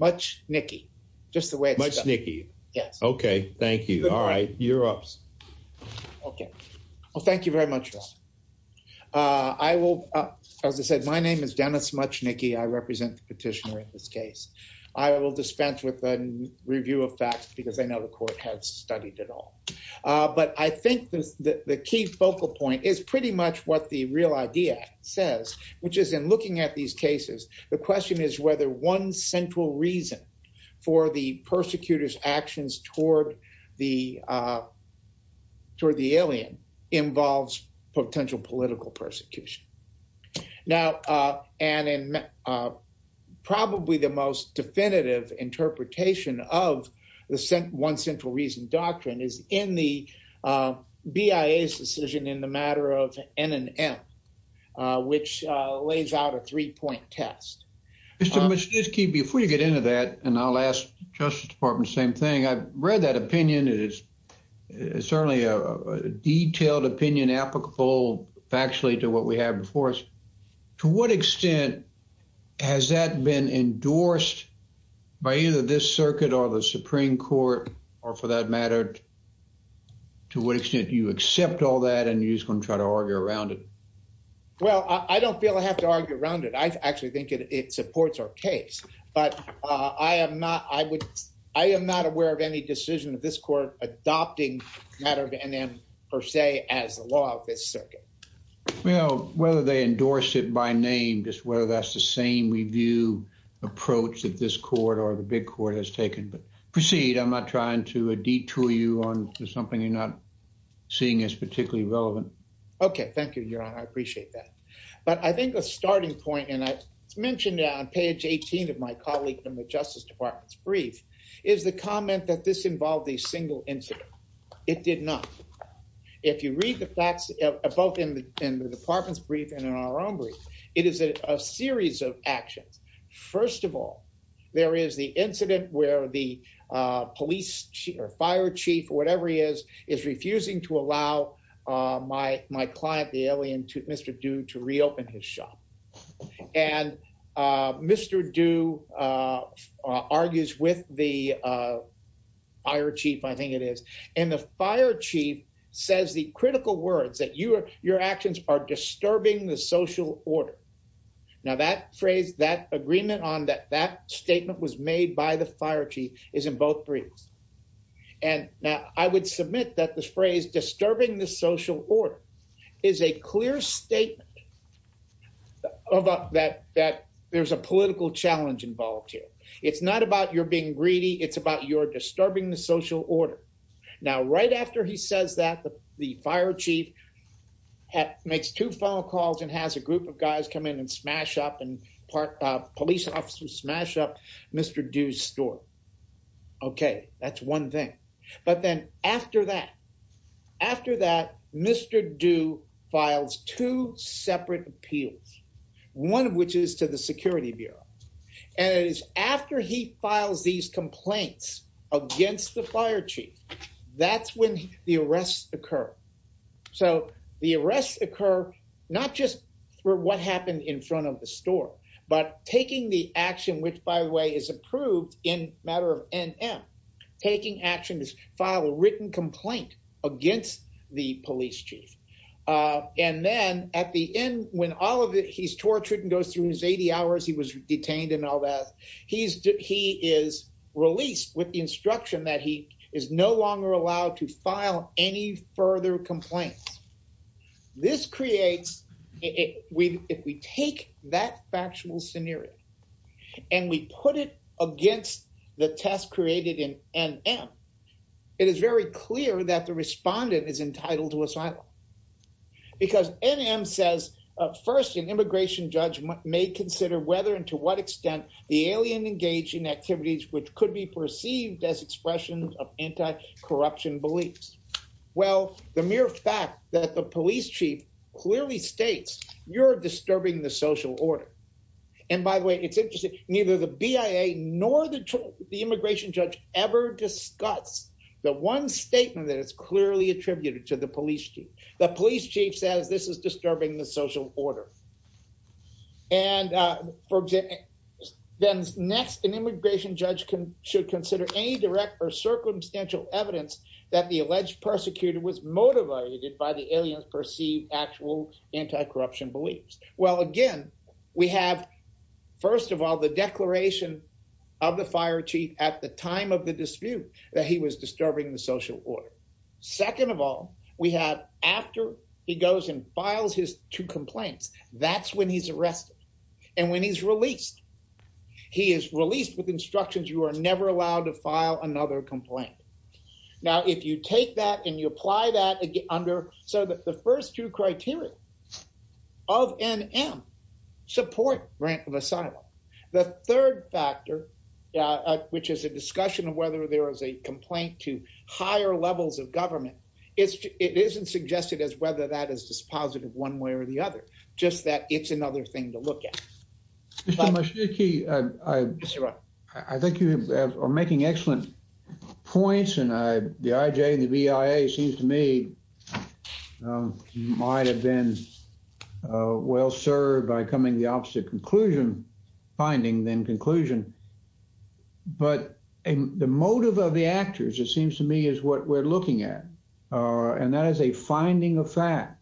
Muchnicki, just the way it's done. Muchnicki. Yes. Okay. Thank you. All right. You're up. Okay. Well, thank you very much. I will, as I said, my name is Dennis Muchnicki. I represent the petitioner in this case. I will dispense with the review of facts because I know the court has studied it all. But I think the key focal point is pretty much what the real idea says, which is looking at these cases, the question is whether one central reason for the persecutor's actions toward the alien involves potential political persecution. Now, and in probably the most definitive interpretation of the one central reason doctrine is in the BIA's decision in the end, which lays out a three-point test. Mr. Muchnicki, before you get into that, and I'll ask the Justice Department the same thing, I've read that opinion. It is certainly a detailed opinion applicable factually to what we have before us. To what extent has that been endorsed by either this circuit or the Supreme Court, or for that matter, to what extent do you accept all that and you're just going to try to argue around it? Well, I don't feel I have to argue around it. I actually think it supports our case, but I am not aware of any decision of this court adopting the matter of NM per se as the law of this circuit. Well, whether they endorse it by name, just whether that's the same review approach that this court or the big court has taken, but proceed. I'm not trying to detour you on something you're not seeing as particularly relevant. Okay, thank you, Your Honor. I appreciate that. But I think a starting point, and I mentioned it on page 18 of my colleague in the Justice Department's brief, is the comment that this involved a single incident. It did not. If you read the facts, both in the Department's brief and in our own brief, it is a series of actions. First of all, there is the incident where the police chief or fire chief, whatever he is, is refusing to allow my client, the alien, Mr. Du, to reopen his shop. And Mr. Du argues with the fire chief, I think it is, and the fire chief says the critical words that your actions are disturbing the social order. Now, that phrase, that agreement on that statement was made by the fire chief is in both briefs. And now I would submit that this phrase, disturbing the social order, is a clear statement that there's a political challenge involved here. It's not about you're being greedy. It's about you're disturbing the social order. Now, right after he says that, the fire chief makes two phone calls and has a group of guys come in and smash up and police officers smash up Mr. Du's store. Okay, that's one thing. But then after that, Mr. Du files two separate appeals, one of which is to the Security Bureau. And it is after he files these complaints against the fire chief, that's when the arrests occur. So the arrests occur, not just for what happened in front of the store, but taking the action, which by the way is approved in matter of NM, taking action to file a written complaint against the police chief. And then at the end, when all of it, he's tortured and goes through his 80 hours, he was detained and all that. He is released with the instruction that he is no longer allowed to file any further complaints. This creates, if we take that factual scenario and we put it against the test created in NM, it is very clear that the respondent is entitled to asylum. Because NM says, first, an immigration judge may consider whether and to what extent the alien engaged in activities which could be perceived as expressions of anti-corruption beliefs. Well, the mere fact that the police chief clearly states, you're disturbing the social order. And by the way, it's interesting, neither the BIA nor the immigration judge ever discuss the one statement that is clearly attributed to the police chief. The police chief says this is disturbing the social order. And then next, an immigration judge should consider any direct or circumstantial evidence that the alleged persecutor was motivated by the aliens perceived actual anti-corruption beliefs. Well, again, we have, first of all, the declaration of the fire chief at the time of the dispute that he was disturbing the social order. Second of all, we have after he goes and files his two complaints, that's when he's arrested. And when he's released, he is released with instructions you are never allowed to file another complaint. Now, if you take that and you apply that under, so that the first two criteria of NM, support grant of asylum. The third factor, which is a discussion of whether there is a complaint to higher levels of government, it isn't suggested as whether that is just positive one way or the other, just that it's another thing to look at. Mr. Mashiki, I think you are making excellent points and the IJ and the BIA seems to me might have been well served by coming to the opposite conclusion, finding then conclusion. But the motive of the actors, it seems to me, is what we're looking at. And that is a finding of fact.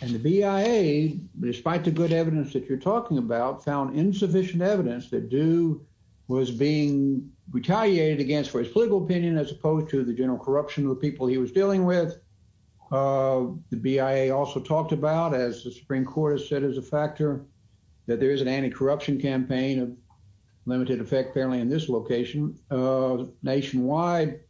And the BIA, despite the good evidence that you're talking about, found insufficient evidence that Dew was being retaliated against for his political opinion, as opposed to the general corruption of the people he was dealing with. The BIA also talked about, as the Supreme Court has said is a factor, that there is an anti-corruption campaign of limited effect, apparently in this location, nationwide.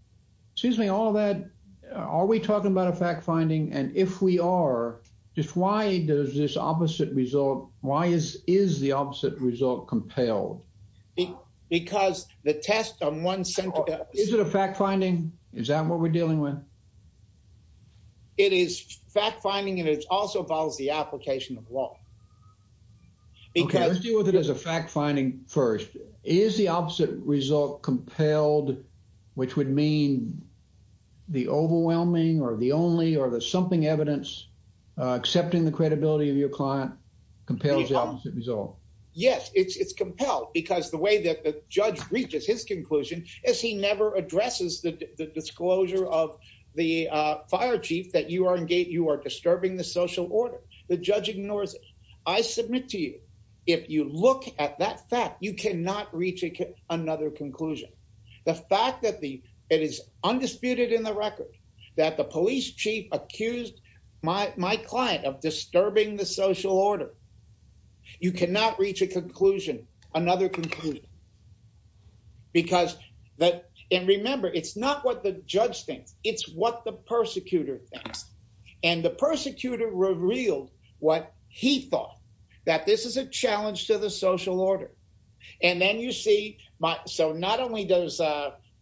Seems to me all of that, are we talking about a fact finding? And if we are, just why does this opposite result, why is the opposite result compelled? Because the test on one center... Is it a fact finding? Is that what we're dealing with? It is fact finding and it also follows the application of law. Okay, let's deal with it as a fact finding first. Is the opposite result compelled, which would mean the overwhelming or the only or the something evidence accepting the credibility of your client compels the opposite result? Yes, it's compelled because the way that the judge reaches his conclusion is he never addresses the disclosure of the fire chief that you are disturbing the social order. The judge ignores it. I submit to you, if you look at that fact, you cannot reach another conclusion. The fact that it is undisputed in the record that the police chief accused my client of disturbing the social order, you cannot reach a conclusion, another conclusion. And remember, it's not what the that this is a challenge to the social order. And then you see, so not only does,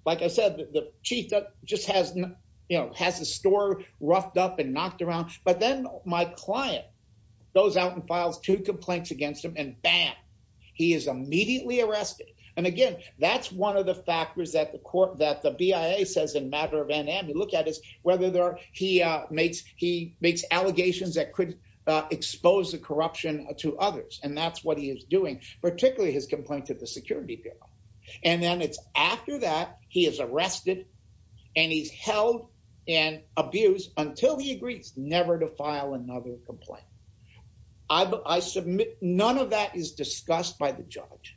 like I said, the chief just has the store roughed up and knocked around, but then my client goes out and files two complaints against him and bam, he is immediately arrested. And again, that's one of the factors that the court, that the BIA says in matter of NAM, you look at is whether he makes allegations that could expose the corruption to others. And that's what he is doing, particularly his complaint to the security bureau. And then it's after that he is arrested and he's held and abused until he agrees never to file another complaint. I submit none of that is discussed by the judge.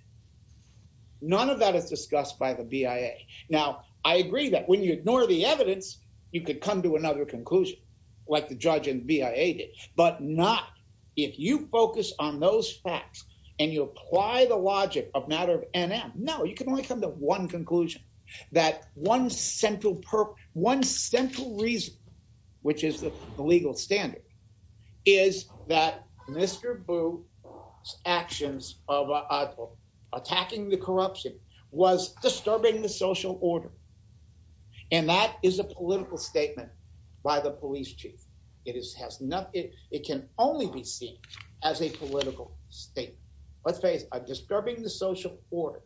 None of that is discussed by the BIA. Now, I agree that when you ignore the evidence, you could come to another conclusion, like the judge and BIA did, but not if you focus on those facts and you apply the logic of matter of NAM. No, you can only come to one conclusion, that one central reason, which is the legal standard, is that Mr. Boo's actions of attacking the corruption was disturbing the social order. And that is a political statement by the police chief. It can only be seen as a political statement. Let's face it, a disturbing the social order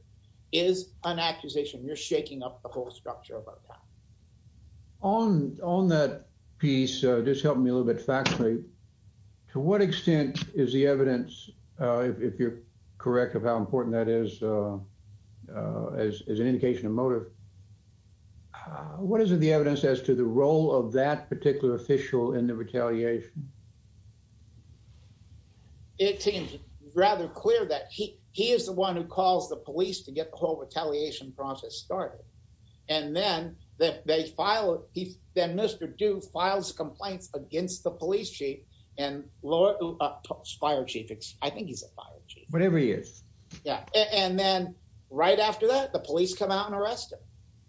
is an accusation. You're shaking up the whole structure of our time. On that piece, just helping me a little bit factually, to what extent is the evidence, if you're correct of how important that is, as an indication of motive, what is the evidence as to the role of that particular official in the retaliation? It seems rather clear that he is the one who calls the police to get the whole retaliation process started. And then Mr. Boo files complaints against the police chief. I think he's a fire chief. Whatever he is. Yeah. And then right after that, the police come out and arrest him.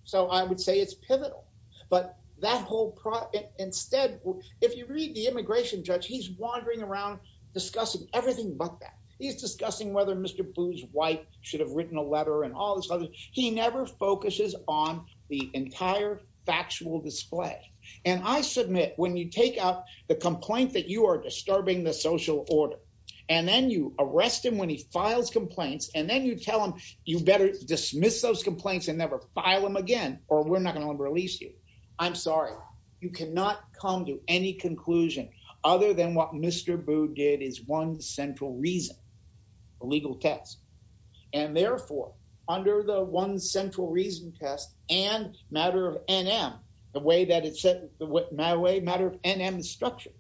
So I would say it's pivotal, but that whole process, instead, if you read the immigration judge, he's wandering around discussing everything but that. He's discussing whether Mr. Boo's wife should have written a letter and all this. He never focuses on the entire factual display. And I submit when you take out the complaint that you are and then you arrest him when he files complaints and then you tell him you better dismiss those complaints and never file them again, or we're not going to release you. I'm sorry. You cannot come to any conclusion other than what Mr. Boo did is one central reason, a legal test. And therefore, under the one central reason test and matter of NM, the way that it's set, matter of NM is structured,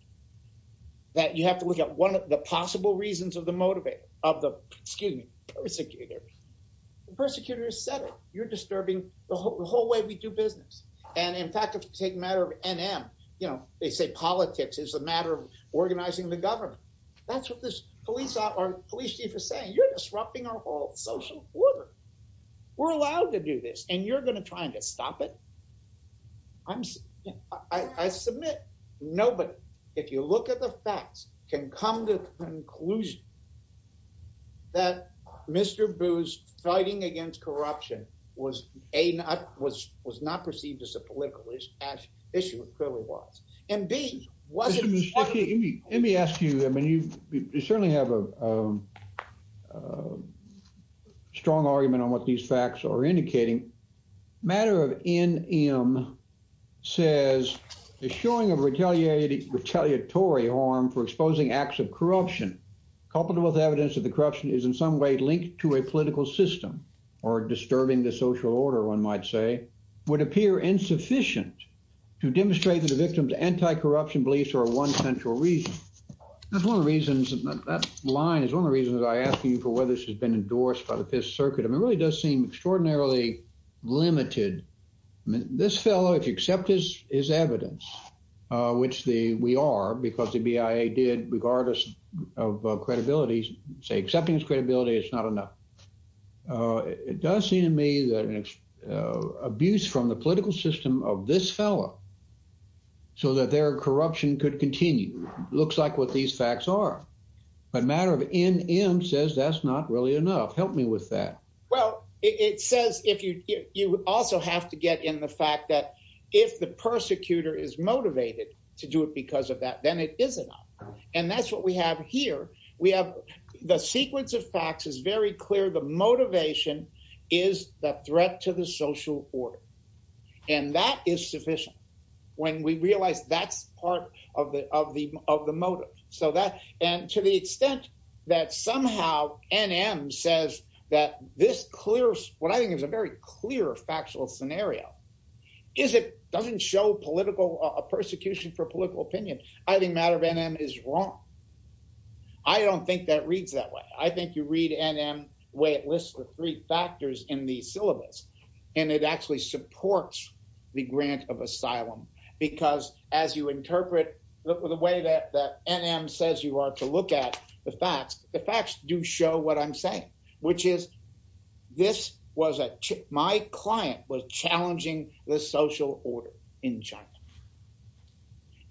that you have to look at one of the possible reasons of the motivator, of the, excuse me, persecutor. The persecutor said it, you're disturbing the whole way we do business. And in fact, if you take matter of NM, you know, they say politics is a matter of organizing the government. That's what this police chief is saying. You're disrupting our whole social order. We're allowed to do this and you're going to try and stop it. I submit nobody, if you look at the facts, can come to the conclusion that Mr. Boo's fighting against corruption was not perceived as a political issue, it clearly was. And B, was it- Let me ask you, I mean, you certainly have a strong argument on what these facts are indicating. Matter of NM says the showing of retaliatory harm for exposing acts of corruption, coupled with evidence that the corruption is in some way linked to a political system or disturbing the social order, one might say, would appear insufficient to demonstrate that the victim's anti-corruption beliefs are a one central reason. That's one of the reasons, that line is one of the reasons I asked you for whether this has been endorsed by the Fifth Circuit. I mean, it really does seem extraordinarily limited. I mean, this fellow, if you accept his evidence, which we are, because the BIA did, regardless of credibility, say accepting his credibility, it's not enough. It does seem to me that an abuse from the political system of this fellow, so that their corruption could continue, looks like what these facts are. But Matter of NM says that's not really enough. Help me with that. Well, it says, you also have to get in the fact that if the persecutor is motivated to do it because of that, then it is enough. And that's what we have here. We have the sequence of facts is very clear. The motivation is the threat to the social order. And that is sufficient when we realize that's part of the motive. So that, and to the extent that somehow NM says that this clear, what I think is a very clear factual scenario, is it doesn't show political persecution for political opinion. I think Matter of NM is wrong. I don't think that reads that way. I think you read NM, the way it lists the three factors in the syllabus, and it actually supports the grant of asylum. Because as you interpret the way that NM says you are to look at the facts, the facts do show what I'm saying, which is this was a, my client was challenging the social order in China.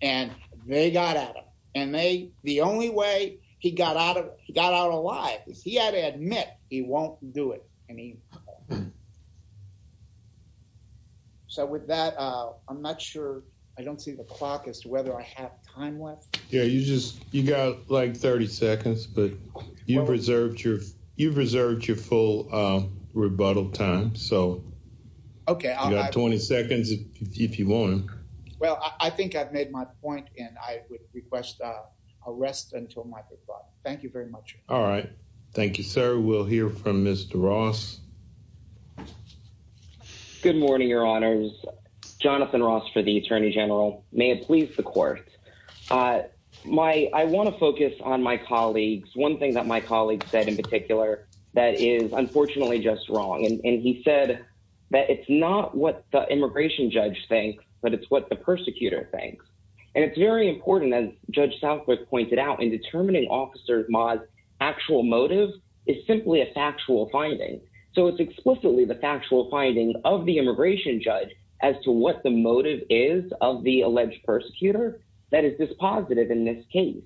And they got at him. And they, the only way he got out of got out alive is he had to admit he won't do it. I mean, so with that, I'm not sure I don't see the clock as to whether I have time left. Yeah, you just you got like 30 seconds, but you've reserved your you've reserved your full rebuttal time. So okay, I got 20 seconds, if you want. Well, I think I've made my point. And I would request a rest until my thought. Thank you very much. All right. Thank you, sir. We'll hear from Mr. Ross. Good morning, Your Honors. Jonathan Ross for the Attorney General, may it please the court. My I want to focus on my colleagues. One thing that my colleagues said in particular, that is unfortunately just wrong. And he said that it's not what the immigration judge thinks, but it's what the persecutor thinks. And it's very important, as Judge Southwick pointed out, in determining Officer Ma's actual motive is simply a factual finding. So it's explicitly the factual finding of the immigration judge as to what the motive is of the alleged persecutor. That is dispositive in this case.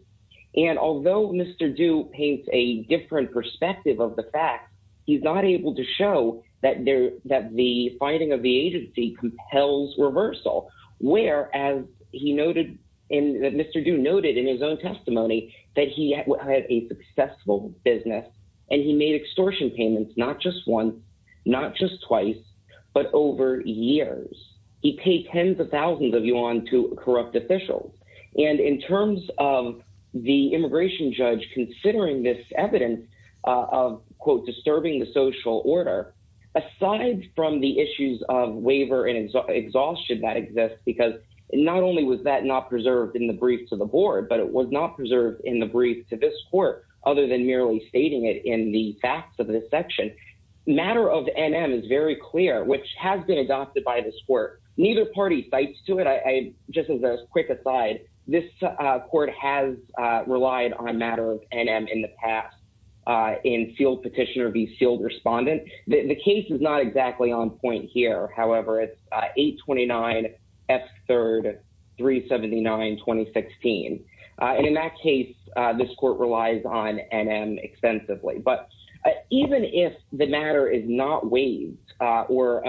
And although Mr. Dew paints a different perspective of the fact, he's not able to show that there that the finding of the agency compels reversal, where as he noted in Mr. Dew noted in his own testimony, that he had a successful business, and he made extortion payments, not just one, not just twice, but over years, he paid 10s of corrupt officials. And in terms of the immigration judge, considering this evidence of quote, disturbing the social order, aside from the issues of waiver and exhaustion that exists, because not only was that not preserved in the brief to the board, but it was not preserved in the brief to this court, other than merely stating it in the facts of this section. Matter of NM is very clear, which has been adopted by this court, neither party fights to it. I, just as a quick aside, this court has relied on matter of NM in the past in sealed petition or be sealed respondent. The case is not exactly on point here. However, it's 829 F3rd 379, 2016. And in that case, this court relies on NM extensively, but even if the matter is not waived, or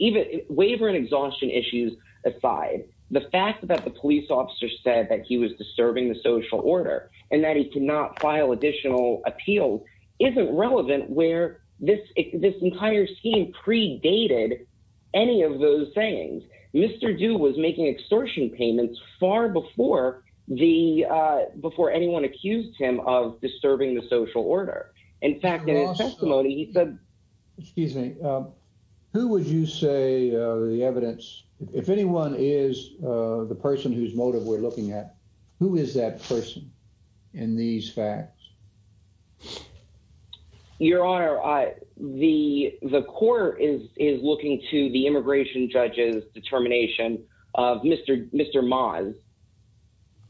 even waiver and exhaustion issues aside, the fact that the police officer said that he was disturbing the social order, and that he could not file additional appeals isn't relevant where this entire scheme predated any of those things. Mr. Dew was making extortion payments far before anyone accused him of in fact, in his testimony, he said, excuse me, who would you say the evidence, if anyone is the person whose motive we're looking at, who is that person in these facts? Your honor, the court is looking to the immigration judges determination of Mr. Maz,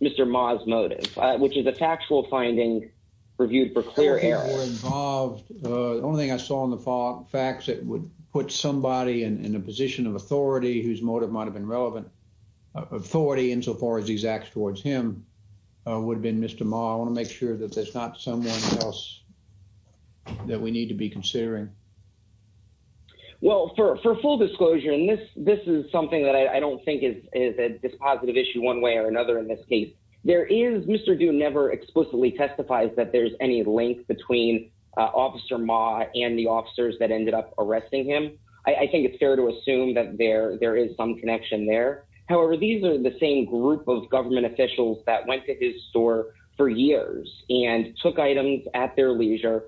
Mr. Maz motive, which is a factual finding reviewed for clear air. The only thing I saw in the fall facts that would put somebody in a position of authority, whose motive might have been relevant authority in so far as these acts towards him would have been Mr. Ma. I want to make sure that there's not someone else that we need to be considering. Well, for full disclosure, and this is something that I don't think is a positive issue one way or another in this case, there is Mr. Dew never explicitly testifies that there's any link between officer Ma and the officers that ended up arresting him. I think it's fair to assume that there is some connection there. However, these are the same group of government officials that went to his store for years and took items at their leisure,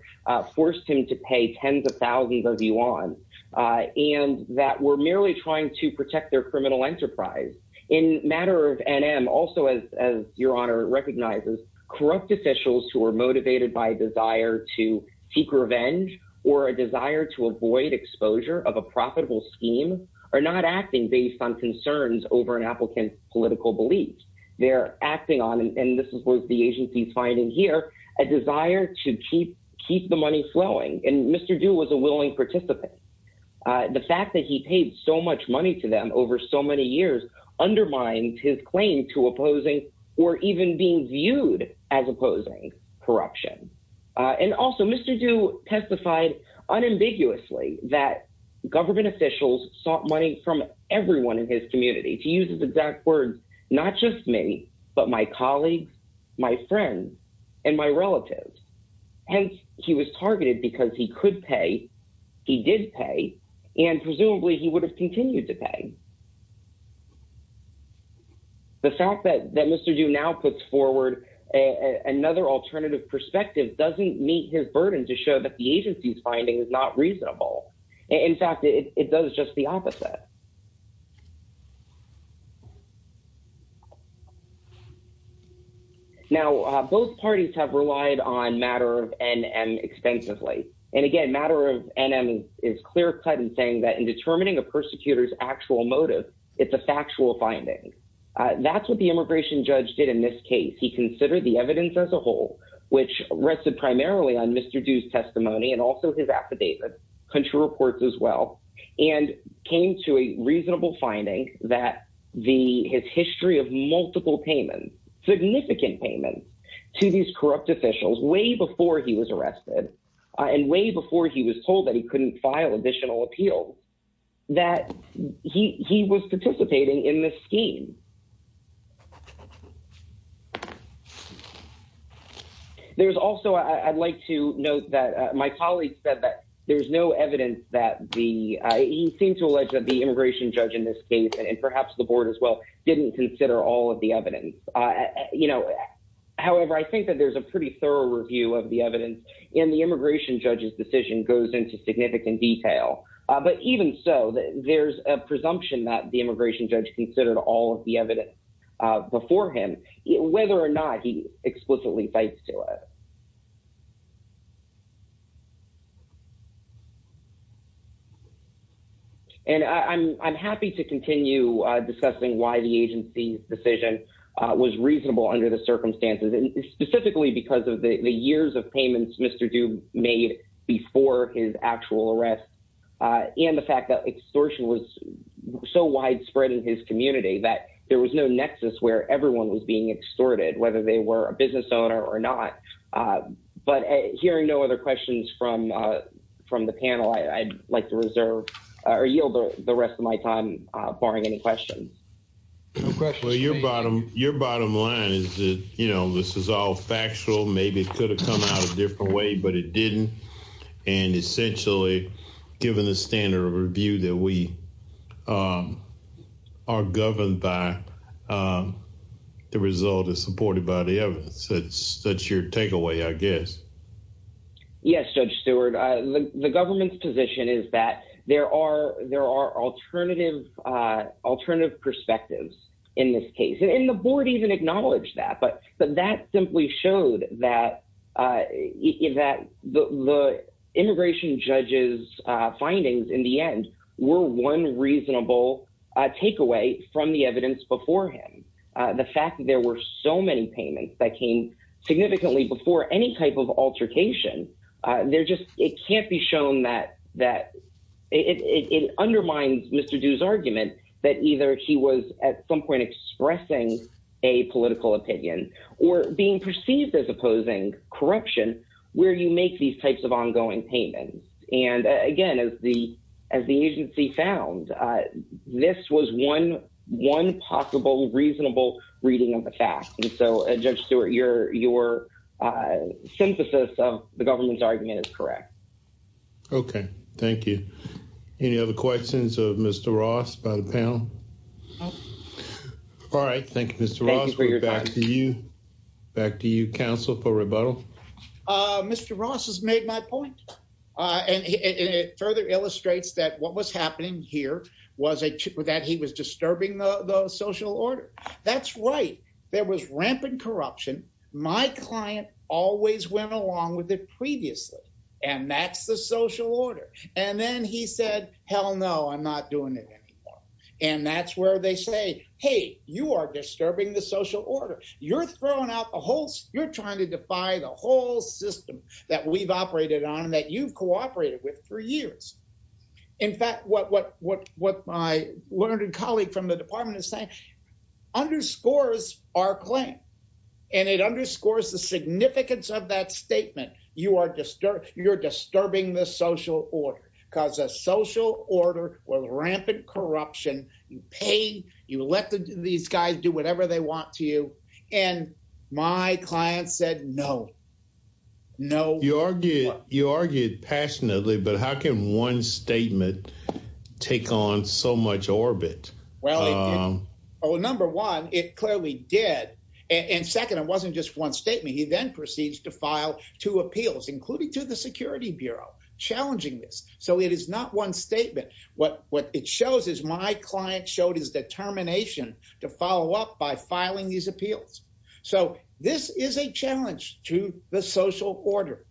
forced him to pay tens of thousands of yuan, and that were merely trying to protect their criminal enterprise in matter of NM. Also, as your honor recognizes, corrupt officials who were motivated by desire to seek revenge or a desire to avoid exposure of a profitable scheme are not acting based on concerns over an applicant's political beliefs. They're acting on, and this is what the agency's finding here, a desire to keep the money flowing. And Mr. Dew was a willing participant. The fact that he paid so much money to them over so many years undermined his claim to opposing or even being viewed as opposing corruption. And also, Mr. Dew testified unambiguously that government officials sought money from everyone in his community. To use his exact words, not just me, but my colleagues, my friends, and my relatives. Hence, he was targeted because he could pay, he did pay, and presumably he would have continued to pay. The fact that Mr. Dew now puts forward another alternative perspective doesn't meet his burden to show that the agency's finding is not reasonable. In fact, it does just the opposite. Now, both parties have relied on matter of NM extensively. And again, matter of NM is clear-cut in saying that in determining a persecutor's actual motive, it's a factual finding. That's what the immigration judge did in this case. He considered the evidence as a whole, which rested primarily on Mr. Dew's testimony and also his affidavit, country reports as well, and came to a reasonable finding that his history of multiple payments, significant payments, to these corrupt officials way before he was arrested and way before he was told that he couldn't file additional appeals, that he was participating in this scheme. There's also, I'd like to note that my colleague said that there's no evidence that the, he seemed to allege that the immigration judge in this case, and perhaps the board as well, didn't consider all of the evidence. However, I think that there's a pretty thorough review of the evidence, and the immigration judge's decision goes into significant detail. But even so, there's a presumption that the immigration judge considered all of the evidence, and that's not true. Before him, whether or not he explicitly fights to it. And I'm happy to continue discussing why the agency's decision was reasonable under the circumstances, and specifically because of the years of payments Mr. Dew made before his actual arrest, and the fact that extortion was so widespread in his community that there was no nexus where everyone was being extorted, whether they were a business owner or not. But hearing no other questions from the panel, I'd like to reserve, or yield the rest of my time, barring any questions. Your bottom line is that, you know, this is all factual, maybe it could have come out a different way, but it didn't. And essentially, given the standard of review that we are governed by, the result is supported by the evidence. That's your takeaway, I guess. Yes, Judge Stewart. The government's position is that there are alternative perspectives in this case. And the board even acknowledged that, but that simply showed that the immigration judge's findings, in the end, were one reasonable takeaway from the evidence before him. The fact that there were so many payments that came significantly before any type of altercation, there just, it can't be shown that, it undermines Mr. Dew's argument that either he was at some point expressing a political opinion, or being perceived as opposing corruption, where you make these types of ongoing payments. And again, as the agency found, this was one possible, reasonable reading of the facts. And so, Judge Stewart, your synthesis of the government's argument is correct. Okay, thank you. Any other questions of Mr. Ross, by the panel? All right, thank you, Mr. Ross. Back to you. Back to you, counsel, for rebuttal. Mr. Ross has made my point. And it further illustrates that what was happening here was that he was disturbing the social order. That's right. There was rampant corruption. My client always went along with it previously. And that's the social order. And then he said, hell no, I'm not doing it anymore. And that's where they say, hey, you are disturbing the social order. You're throwing out the whole, you're trying to defy the whole system that we've learned. A colleague from the department is saying, underscores our claim. And it underscores the significance of that statement. You are disturbing the social order, because a social order with rampant corruption, you pay, you let these guys do whatever they want to you. And my client said, no, no. You argued passionately, but how can one statement take on so much orbit? Well, number one, it clearly did. And second, it wasn't just one statement. He then proceeds to file two appeals, including to the Security Bureau, challenging this. So it is not one statement. What it shows is my client showed his determination to follow up by filing these appeals. So this is a challenge to the social order.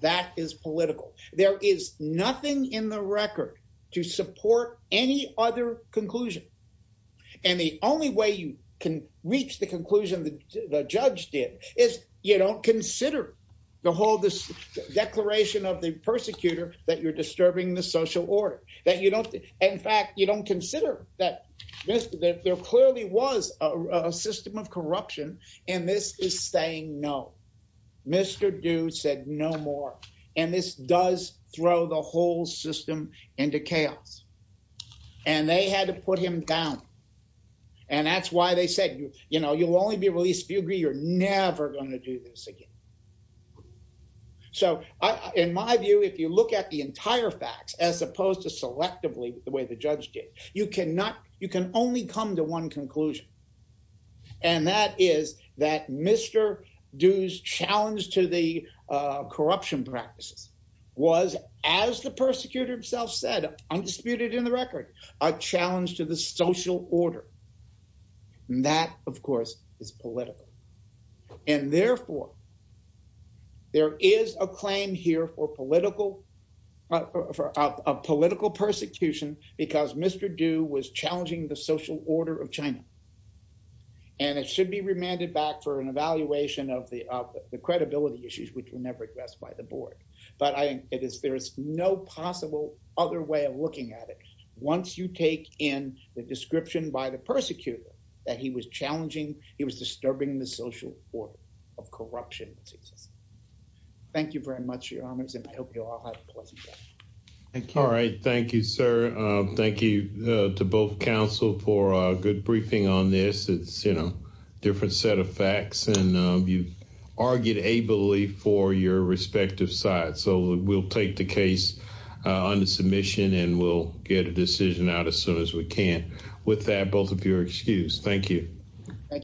That is political. There is nothing in the record to support any other conclusion. And the only way you can reach the conclusion that the judge did is you don't consider the whole this declaration of the persecutor, that you're disturbing the social order, that you don't, in fact, you don't consider that there clearly was a system of corruption. And this is saying no. Mr. Dew said no more. And this does throw the whole system into chaos. And they had to put him down. And that's why they said, you know, you'll only be released if you agree you're never going to do this again. So in my view, if you look at the entire facts, as opposed to selectively the way the judge did, you cannot, you can only come to one conclusion. And that is that Mr. Dew's challenge to the corruption practices was, as the persecutor himself said, undisputed in the record, a challenge to the social order. And that, of course, is political. And therefore, there is a claim here for political persecution, because Mr. Dew was challenging the social order of China. And it should be remanded back for an evaluation of the credibility issues, which were never addressed by the board. But there is no possible other way of looking at it. Once you take in the description by the persecutor, that he was challenging, he was disturbing the social order of corruption. Thank you very much, and I hope you all have a pleasant day. Thank you. All right. Thank you, sir. Thank you to both counsel for a good briefing on this. It's, you know, a different set of facts, and you argued ably for your respective side. So we'll take the case under submission, and we'll get a decision out as soon as we can. With that, both of you are excused. Thank you. Thank you.